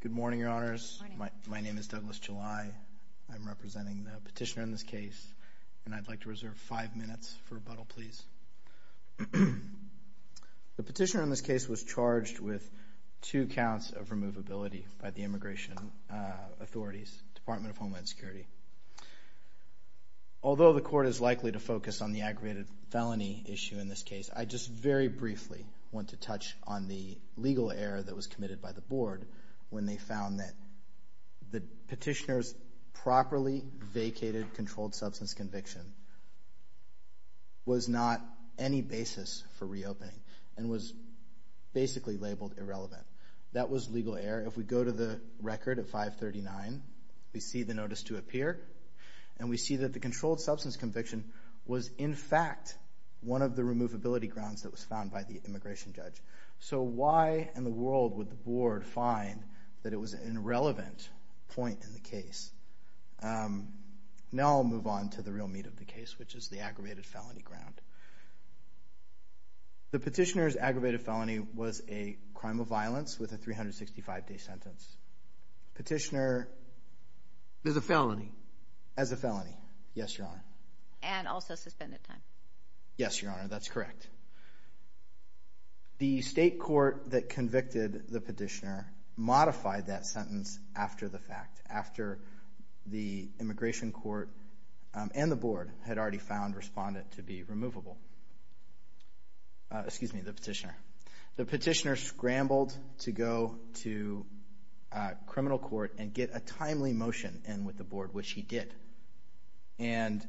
Good morning, Your Honors. My name is Douglas July. I'm representing the petitioner in this case and I'd like to reserve five minutes for rebuttal, please. The petitioner in this case was charged with two counts of removability by the Immigration Authorities, Department of Homeland Security. Although the court is likely to focus on the aggravated felony issue in this case, I just very briefly want to touch on the legal error that was committed by the board when they found that the petitioner's properly vacated controlled substance conviction was not any basis for reopening and was basically labeled irrelevant. That was legal error. If we go to the record at 539, we see the notice to appear and we see that the controlled removability grounds that was found by the immigration judge. So why in the world would the board find that it was an irrelevant point in the case? Now I'll move on to the real meat of the case, which is the aggravated felony ground. The petitioner's aggravated felony was a crime of violence with a 365-day sentence. Petitioner... As a felony. As a felony. Yes, Your Honor. And also suspended time. Yes, Your Honor. That's correct. The state court that convicted the petitioner modified that sentence after the fact, after the immigration court and the board had already found respondent to be removable. Excuse me, the petitioner. The petitioner scrambled to go to criminal court and get a timely motion in with the board, which he did. And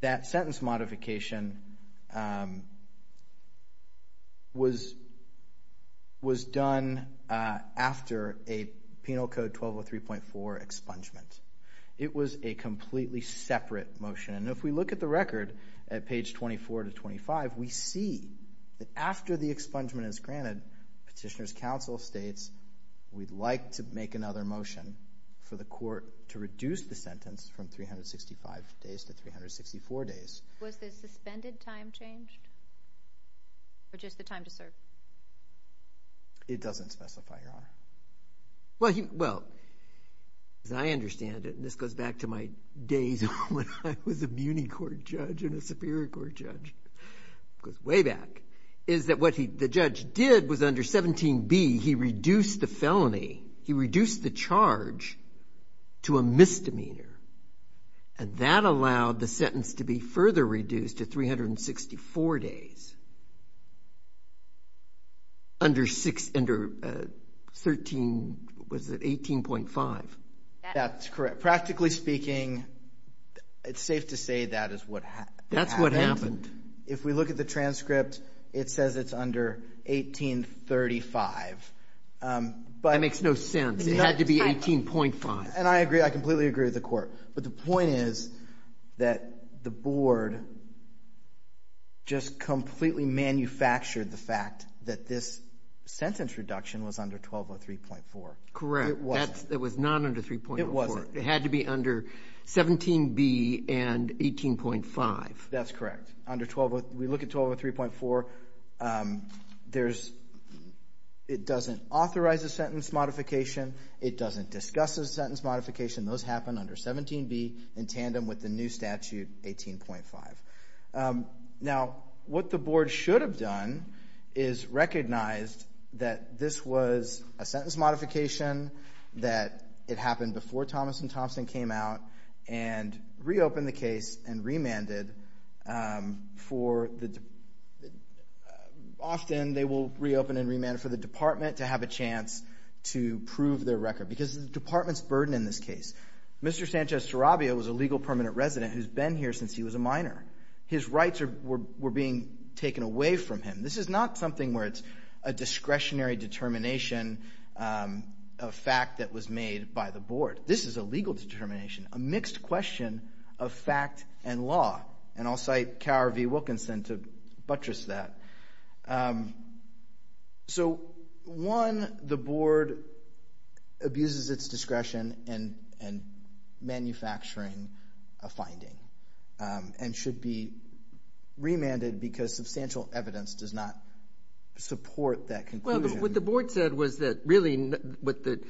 that sentence modification was done after a penal code 1203.4 expungement. It was a completely separate motion. And if we look at the record at page 24 to 25, we see that after the expungement is granted, petitioner's counsel states, we'd like to make another motion for the court to reduce the sentence from 365 days to 364 days. Was the suspended time changed? Or just the time to serve? It doesn't specify, Your Honor. Well, as I understand it, and this goes back to my days when I was a muni court judge and under 17b, he reduced the felony, he reduced the charge to a misdemeanor. And that allowed the sentence to be further reduced to 364 days. Under six, under 13, was it 18.5? That's correct. Practically speaking, it's safe to say that is what happened. That's what happened. If we look at the transcript, it says it's under 1835. That makes no sense. It had to be 18.5. And I agree. I completely agree with the court. But the point is that the board just completely manufactured the fact that this sentence reduction was under 1203.4. Correct. It wasn't. It was not under 3204. It wasn't. It had to be under 17b and 18.5. That's correct. We look at 1203.4. It doesn't authorize a sentence modification. It doesn't discuss a sentence modification. Those happen under 17b in tandem with the new statute, 18.5. Now what the board should have done is recognized that this was a sentence modification, that it happened before Thomas and Thompson came out and reopened the case and remanded for the, often they will reopen and remand for the department to have a chance to prove their record because the department's burden in this case. Mr. Sanchez-Tarabio was a legal permanent resident who's been here since he was a minor. His rights were being taken away from him. This is not something where it's a discretionary determination, a fact that was made by the board. This is a legal determination, a mixed question of fact and law. And I'll cite Cowher v. Wilkinson to buttress that. So one, the board abuses its discretion in manufacturing a finding and should be remanded because substantial evidence does not support that conclusion. No, but what the board said was that really what the,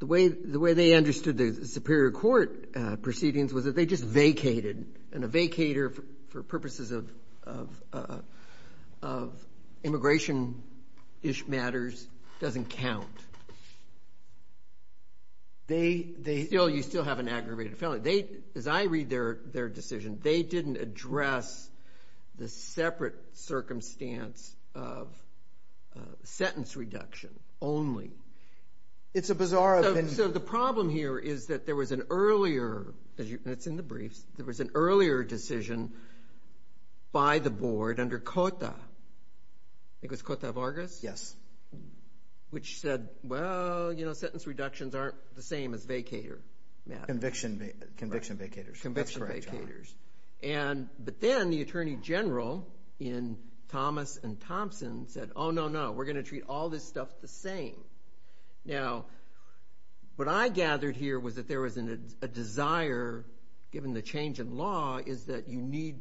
the way they understood the superior court proceedings was that they just vacated. And a vacator for purposes of immigration-ish matters doesn't count. They, you still have an aggravated felony. As I read their decision, they didn't address the separate circumstance of sentence reduction only. It's a bizarre- So the problem here is that there was an earlier, and it's in the briefs, there was an earlier decision by the board under Cota, I think it was Cota Vargas? Yes. Which said, well, you know, sentence reductions aren't the same as vacator matters. Conviction vacators. Conviction vacators. That's right, John. And, but then the Attorney General in Thomas and Thompson said, oh, no, no, we're going to treat all this stuff the same. Now, what I gathered here was that there was a desire, given the change in law, is that you need,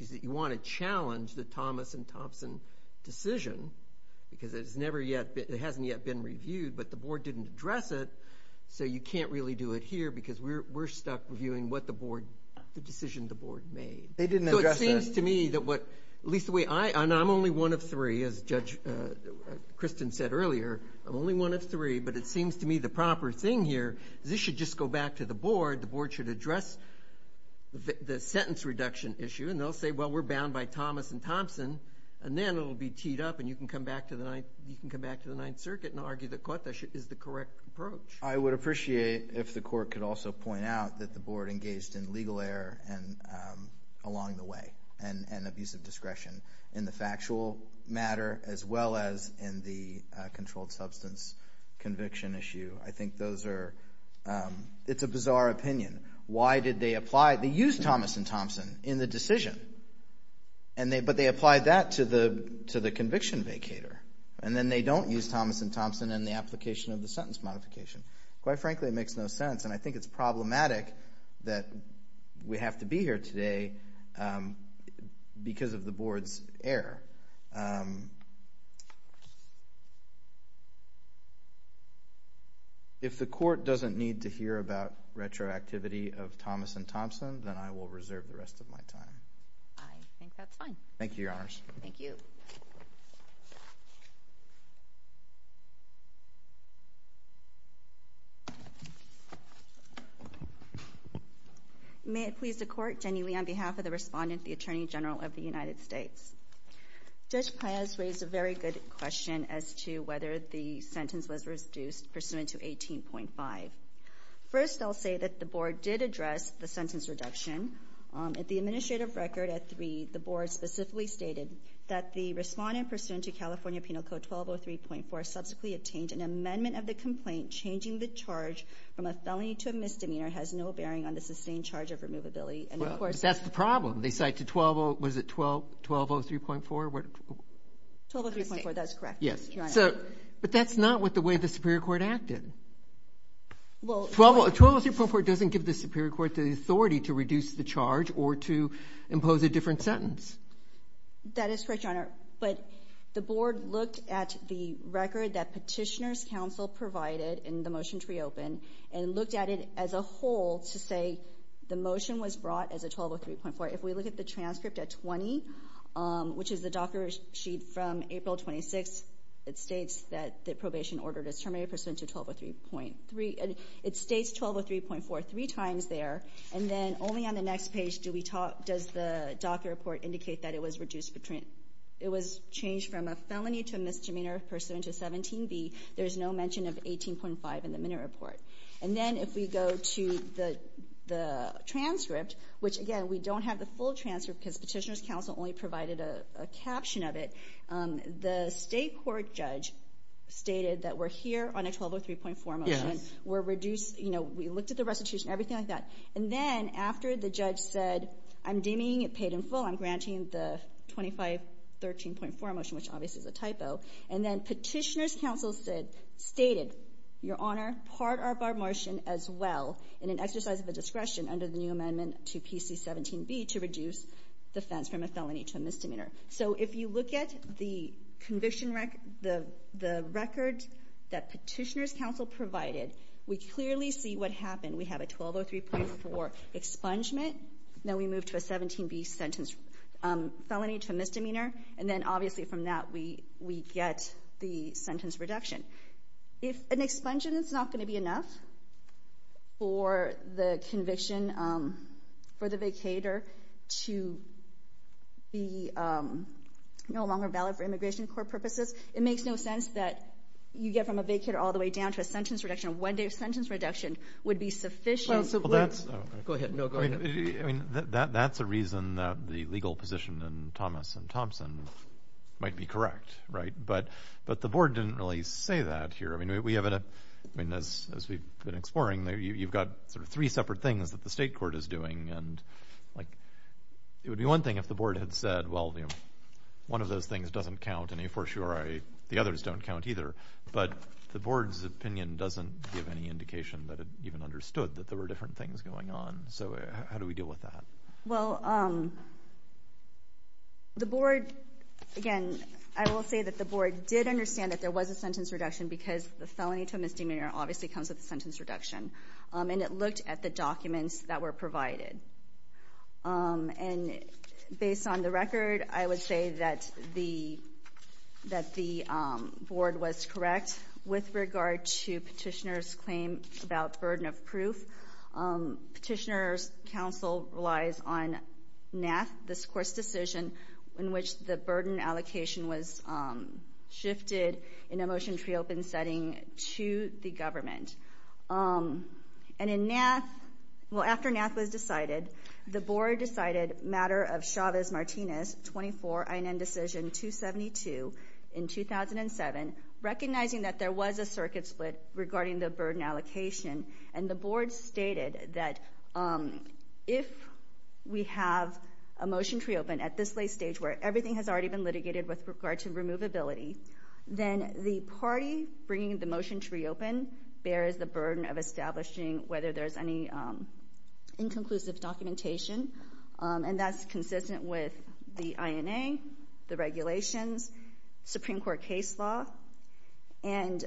is that you want to challenge the Thomas and Thompson decision because it's never yet, it hasn't yet been reviewed, but the board didn't address it. So you can't really do it here because we're, we're stuck reviewing what the board, the decision the board made. They didn't address that. So it seems to me that what, at least the way I, and I'm only one of three, as Judge Kristen said earlier, I'm only one of three, but it seems to me the proper thing here is this should just go back to the board. The board should address the sentence reduction issue and they'll say, well, we're bound by Thomas and Thompson, and then it'll be teed up and you can come back to the Ninth, you can come back to the Ninth Circuit and argue that Cota is the correct approach. I would appreciate if the court could also point out that the board engaged in legal error and, along the way, and, and abusive discretion in the factual matter as well as in the controlled substance conviction issue. I think those are, it's a bizarre opinion. Why did they apply, they used Thomas and Thompson in the decision, and they, but they applied that to the, to the conviction vacator, and then they don't use Thomas and Thompson in the application of the sentence modification. Quite frankly, it makes no sense, and I think it's problematic that we have to be here today because of the board's error. If the court doesn't need to hear about retroactivity of Thomas and Thompson, then I will reserve the rest of my time. I think that's fine. Thank you, Your Honors. May it please the court, Jenny Lee on behalf of the respondent, the Attorney General of the United States. Judge Paz raised a very good question as to whether the sentence was reduced pursuant to 18.5. First, I'll say that the board did address the sentence reduction. At the administrative record at 3, the board specifically stated that the respondent pursuant to California Penal Code 1203.4 subsequently obtained an amendment of the complaint changing the charge from a felony to a misdemeanor has no bearing on the sustained charge of removability. Well, that's the problem. They cite to 120, was it 1203.4? 1203.4, that's correct, Your Honor. Yes. So, but that's not what the way the Superior Court acted. 1203.4 doesn't give the Superior Court the authority to reduce the charge or to impose a different sentence. That is correct, Your Honor. But the board looked at the record that Petitioner's Council provided in the motion to reopen and looked at it as a whole to say the motion was brought as a 1203.4. If we look at the transcript at 20, which is the docker sheet from April 26th, it states that the probation order is terminated pursuant to 1203.3. It states 1203.4 three times there. And then only on the next page do we talk, does the docker report indicate that it was reduced, it was changed from a felony to misdemeanor pursuant to 17B. There's no mention of 18.5 in the minute report. And then if we go to the transcript, which again, we don't have the full transcript because Petitioner's Council only provided a caption of it. The state court judge stated that we're here on a 1203.4 motion. We're reduced, you know, everything like that. And then after the judge said, I'm deeming it paid in full, I'm granting the 2513.4 motion, which obviously is a typo. And then Petitioner's Council stated, Your Honor, part of our motion as well in an exercise of discretion under the new amendment to PC17B to reduce the offense from a felony to a misdemeanor. So if you look at the record that Petitioner's Council provided, we clearly see what happened. We have a 1203.4 expungement. Then we move to a 17B sentence, felony to misdemeanor. And then obviously from that we get the sentence reduction. If an expungement is not going to be enough for the conviction, for the vacator to be no longer valid for immigration court purposes, it makes no sense that you get from a vacator all the way down to a sentence reduction. A one-day sentence reduction would be sufficient. Well, that's a reason that the legal position in Thomas and Thompson might be correct, right? But the board didn't really say that here. I mean, as we've been exploring, you've got sort of three separate things that the state court is doing. It would be one thing if the But the board's opinion doesn't give any indication that it even understood that there were different things going on. So how do we deal with that? Well, again, I will say that the board did understand that there was a sentence reduction because the felony to a misdemeanor obviously comes with a sentence reduction. And it looked at the documents that were provided. And based on the record, I would say that the board was correct with regard to petitioner's claim about burden of proof. Petitioner's counsel relies on NAF, this court's decision in which the burden allocation was shifted in a motion-free open setting to the government. And in NAF, well, after NAF was decided, the board decided matter of Chavez-Martinez 24 INN decision 272 in 2007, recognizing that there was a circuit split regarding the burden allocation. And the board stated that if we have a motion-free open at this late stage where everything has already been litigated with regard to removability, then the party bringing the motion-free open bears the burden of establishing whether there's any inconclusive documentation. And that's consistent with the INA, the regulations, Supreme Court case law. And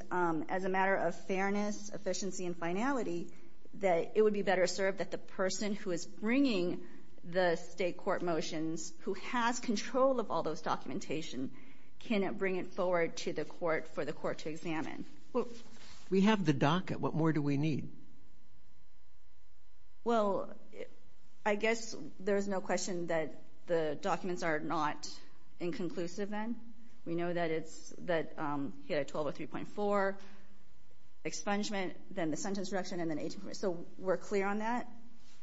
as a matter of fairness, efficiency, and finality, that it would be better served that the person who is bringing the state court motions, who has control of all those documentation, can bring it forward to the court for the court to examine. Well, we have the docket. What more do we need? Well, I guess there's no question that the documents are not inconclusive then. We know that it's, that he had a 1203.4 expungement, then the sentence reduction, and then 18.4. So we're clear on that?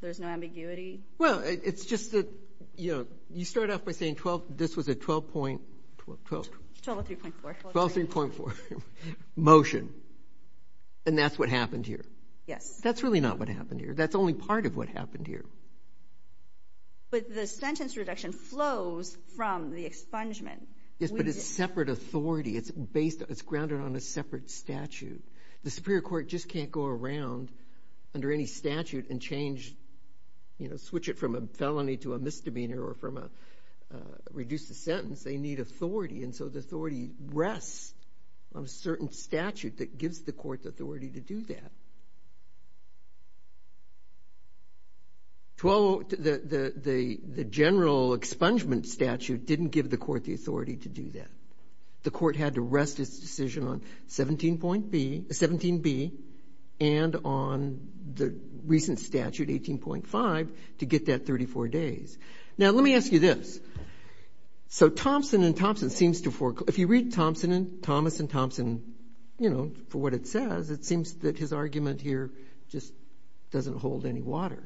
There's no ambiguity? Well, it's just that, you know, you start off by saying 12, this was a 12 point, 12. 1203.4. 1203.4, motion. And that's what happened here? Yes. That's really not what happened here. That's only part of what happened here. But the sentence reduction flows from the expungement. Yes, but it's separate authority. It's based, it's grounded on a separate statute. The Superior Court just can't go around under any statute and change, you know, switch it from a felony to a misdemeanor or from a, reduce the sentence. They need authority. And so the authority rests on a certain statute that gives the court the authority to do that. The general expungement statute didn't give the court the authority to do that. The court had to rest its decision on 17.B, 17B, and on the recent statute, 18.5, to get that 34 days. Now, let me ask you this. So Thompson and Thompson seems to, if you read Thompson and Thomas and Thompson, you know, for what it says, it seems that his argument here just doesn't hold any water.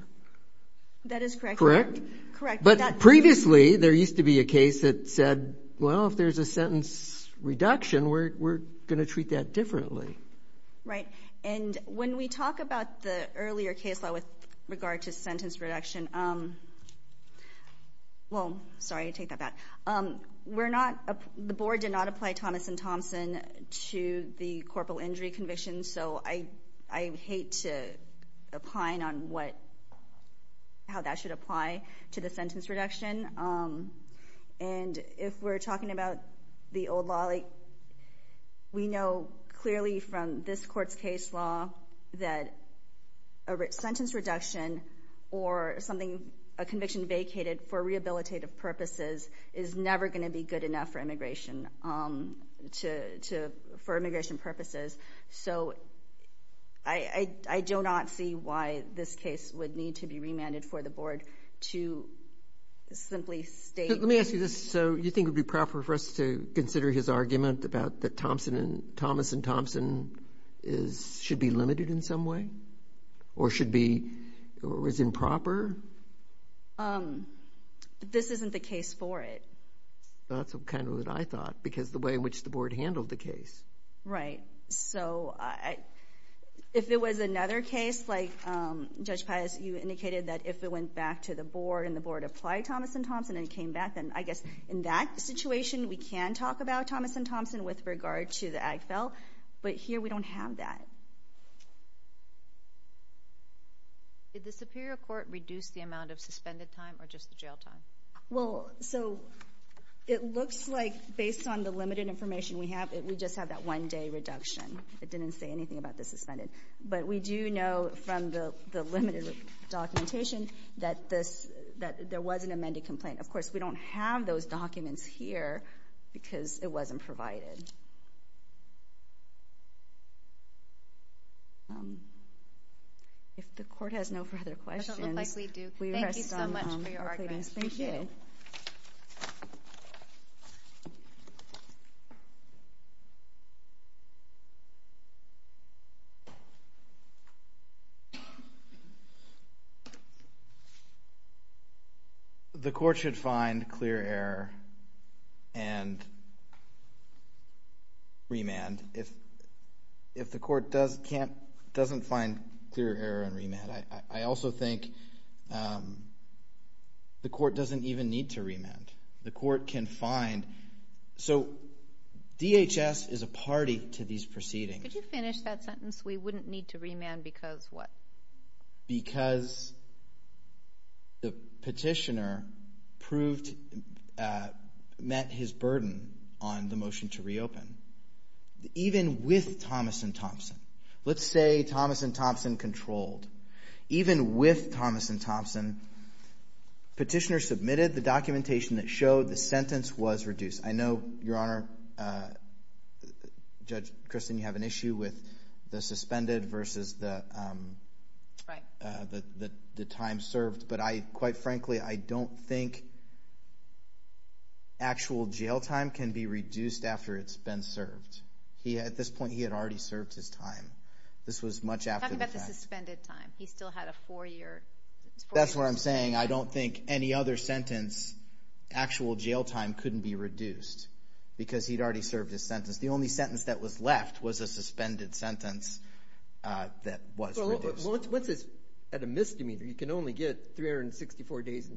That is correct. Correct? Correct. But previously, there used to be a case that said, well, if there's a sentence reduction, we're going to treat that differently. Right. And when we talk about the earlier case law with regard to sentence reduction, well, sorry, I take that back. We're not, the board did not apply Thomas and Thompson to the Corporal Injury Conviction, so I hate to opine on what, how that should apply to the sentence reduction. And if we're talking about the old law, like, we know clearly from this court's case law that a sentence reduction or something, a conviction vacated for rehabilitative purposes is never going to be good enough for immigration, for immigration purposes. So I do not see why this case would need to be remanded for the board to simply state. Let me ask you this. So you think it would be proper for us to consider his argument about that Thompson and, Thomas and Thompson is, should be limited in some way? Or should be, or is improper? This isn't the case for it. That's kind of what I thought, because the way in which the board handled the case. Right. So if it was another case, like Judge Pius, you indicated that if it went back to the board and the board applied Thomas and Thompson and it came back, then I guess in that situation we can talk about Thomas and Thompson with regard to the Ag Fell. But here we don't have that. Did the Superior Court reduce the amount of suspended time or just the jail time? Well, so it looks like based on the limited information we have, we just have that one day reduction. It didn't say anything about the suspended. But we do know from the limited documentation that this, that there was an amended complaint. Of course, we don't have those documents here, because it wasn't provided. If the court has no further questions, we rest on our pleadings. Thank you. The court should find clear error and remand. If the court doesn't find clear error and remand, the court doesn't even need to remand. The court can find. So DHS is a party to these proceedings. Could you finish that sentence? We wouldn't need to remand because what? Because the petitioner proved, met his burden on the motion to reopen. Even with Thomas and Thompson. Let's say Thomas and Thompson controlled. Even with Thomas and Thompson, the petitioner submitted the documentation that showed the sentence was reduced. I know, Your Honor, Judge Christin, you have an issue with the suspended versus the time served. But I, quite frankly, I don't think actual jail time can be reduced after it's been served. At this point, he had already served his time. This was much after the fact. Suspended time. He still had a four-year. That's what I'm saying. I don't think any other sentence, actual jail time, couldn't be reduced because he'd already served his sentence. The only sentence that was left was a suspended sentence that was reduced. Well, what's this? At a misdemeanor, you can only get 364 days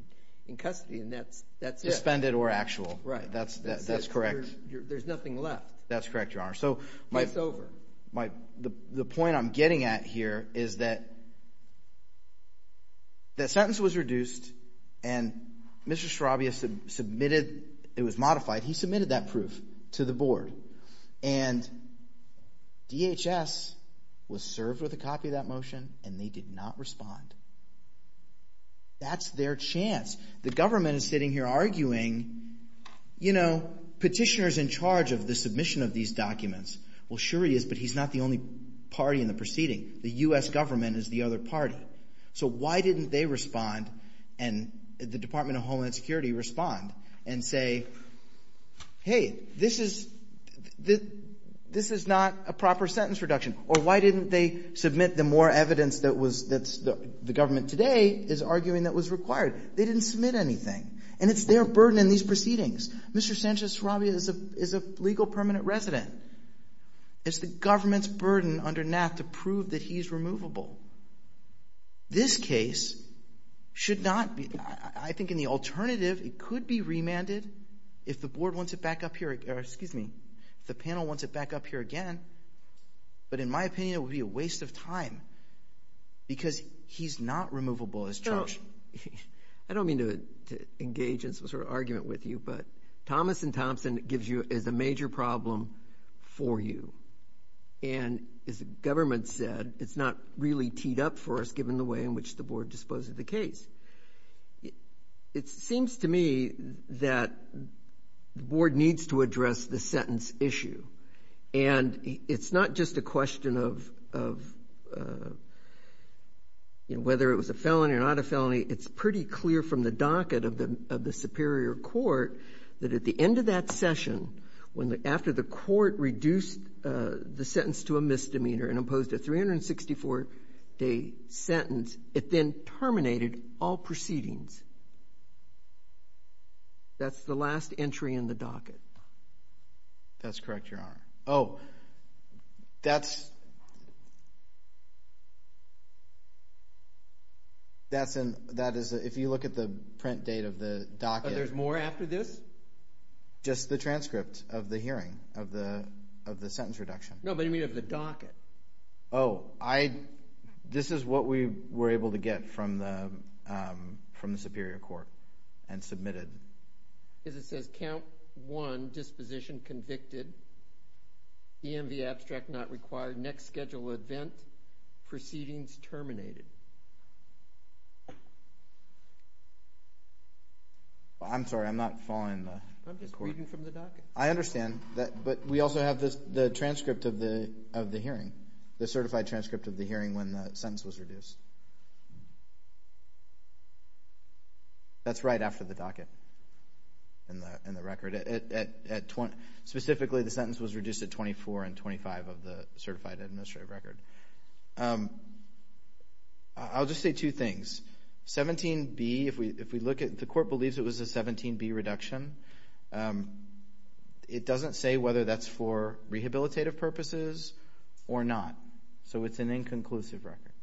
in custody, and that's it. Suspended or actual. That's correct. There's nothing left. That's correct, Your Honor. It's over. The point I'm getting at here is that that sentence was reduced, and Mr. Straubius submitted, it was modified, he submitted that proof to the board. And DHS was served with a copy of that motion, and they did not respond. That's their chance. The government is sitting here arguing, you know, petitioner's in charge of the submission of these documents. Well, sure he is, but he's not the only party in the proceeding. The U.S. government is the other party. So why didn't they respond, and the Department of Homeland Security respond, and say, hey, this is, this is not a proper sentence reduction? Or why didn't they submit the more evidence that was, that the government today is arguing that was required? They didn't submit anything. And it's their burden in these proceedings. Mr. Sanchez-Straubius is a legal permanent resident. It's the government's burden under NAFTA to prove that he's removable. This case should not be, I think in the alternative, it could be remanded if the board wants it back up here, or excuse me, if the panel wants it back up here again. But in my opinion, it would be a waste of time, because he's not removable as charged. I don't mean to engage in some sort of argument with you, but Thomas and Thompson gives you, is a major problem for you. And as the government said, it's not really teed up for us, given the way in which the board disposed of the case. It seems to me that the board needs to address the sentence issue. And it's not just a question of, of, you know, whether it was a felony or not a felony. It's pretty clear from the docket of the, of the Superior Court that at the end of that session, when the, after the court reduced the sentence to a misdemeanor and imposed a 364-day sentence, it then terminated all proceedings. That's the last entry in the docket. That's correct, Your Honor. Oh, that's, that's in, that is, if you look at the print date of the docket. But there's more after this? Just the transcript of the hearing, of the, of the sentence reduction. No, but you mean of the docket. Oh, I, this is what we were able to get from the, from the Superior Court and submitted. Because it says, count one, disposition convicted, EMV abstract not required, next schedule event, proceedings terminated. I'm sorry, I'm not following the court. I'm just reading from the docket. I understand that, but we also have the, the transcript of the, of the hearing, the certified transcript of the hearing when the sentence was reduced. That's right after the docket. In the, in the record. At, at, at 20, specifically the sentence was reduced at 24 and 25 of the certified administrative record. I'll just say two things. 17B, if we, if we look at, the court believes it was a 17B reduction. It doesn't say whether that's for rehabilitative purposes or not. So it's an inconclusive record.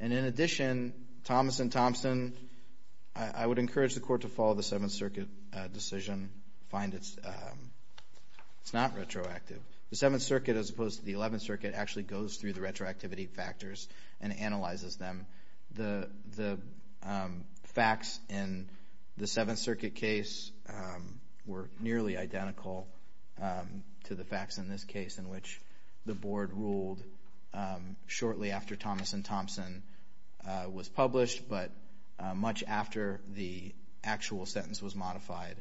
And in addition, Thomas and Thompson, I, I would encourage the court to follow the Seventh Circuit decision, find it's, it's not retroactive. The Seventh Circuit as opposed to the Eleventh Circuit actually goes through the retroactivity factors and analyzes them. The, the facts in the Seventh Circuit case were nearly identical to the facts in this case. Thomas and Thompson was published, but much after the actual sentence was modified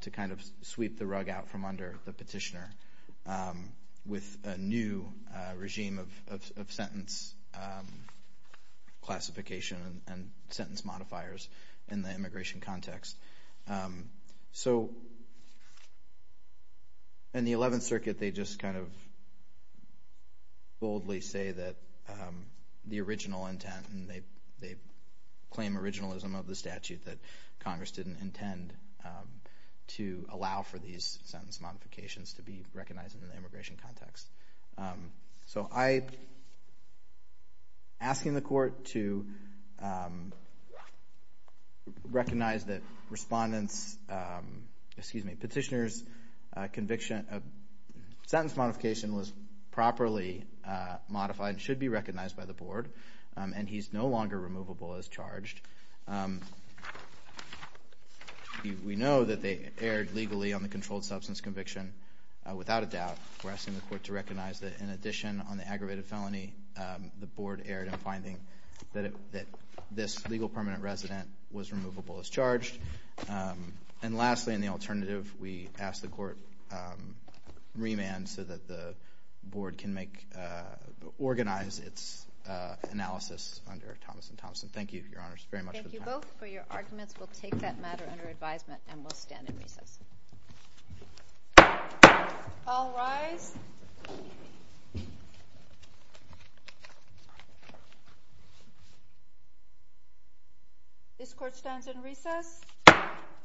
to kind of sweep the rug out from under the petitioner with a new regime of, of, of sentence classification and sentence modifiers in the immigration context. So in the Eleventh Circuit, they just kind of boldly say that the original sentence was the original intent and they, they claim originalism of the statute that Congress didn't intend to allow for these sentence modifications to be recognized in the immigration context. So I, asking the court to recognize that respondents, excuse me, petitioners conviction, sentence modification was properly modified and should be recognized by the board. And he's no longer removable as charged. We know that they erred legally on the controlled substance conviction without a doubt. We're asking the court to recognize that in addition on the aggravated felony, the board erred in finding that it, that this legal permanent resident was removable as charged. And lastly, in the alternative, we ask the court remand so that the board can make, organize its analysis under Thomas and Thompson. Thank you, Your Honors, very much for the time. Thank you both for your arguments. We'll take that matter under advisement and we'll stand in recess. All rise. This court stands in recess. Thank you.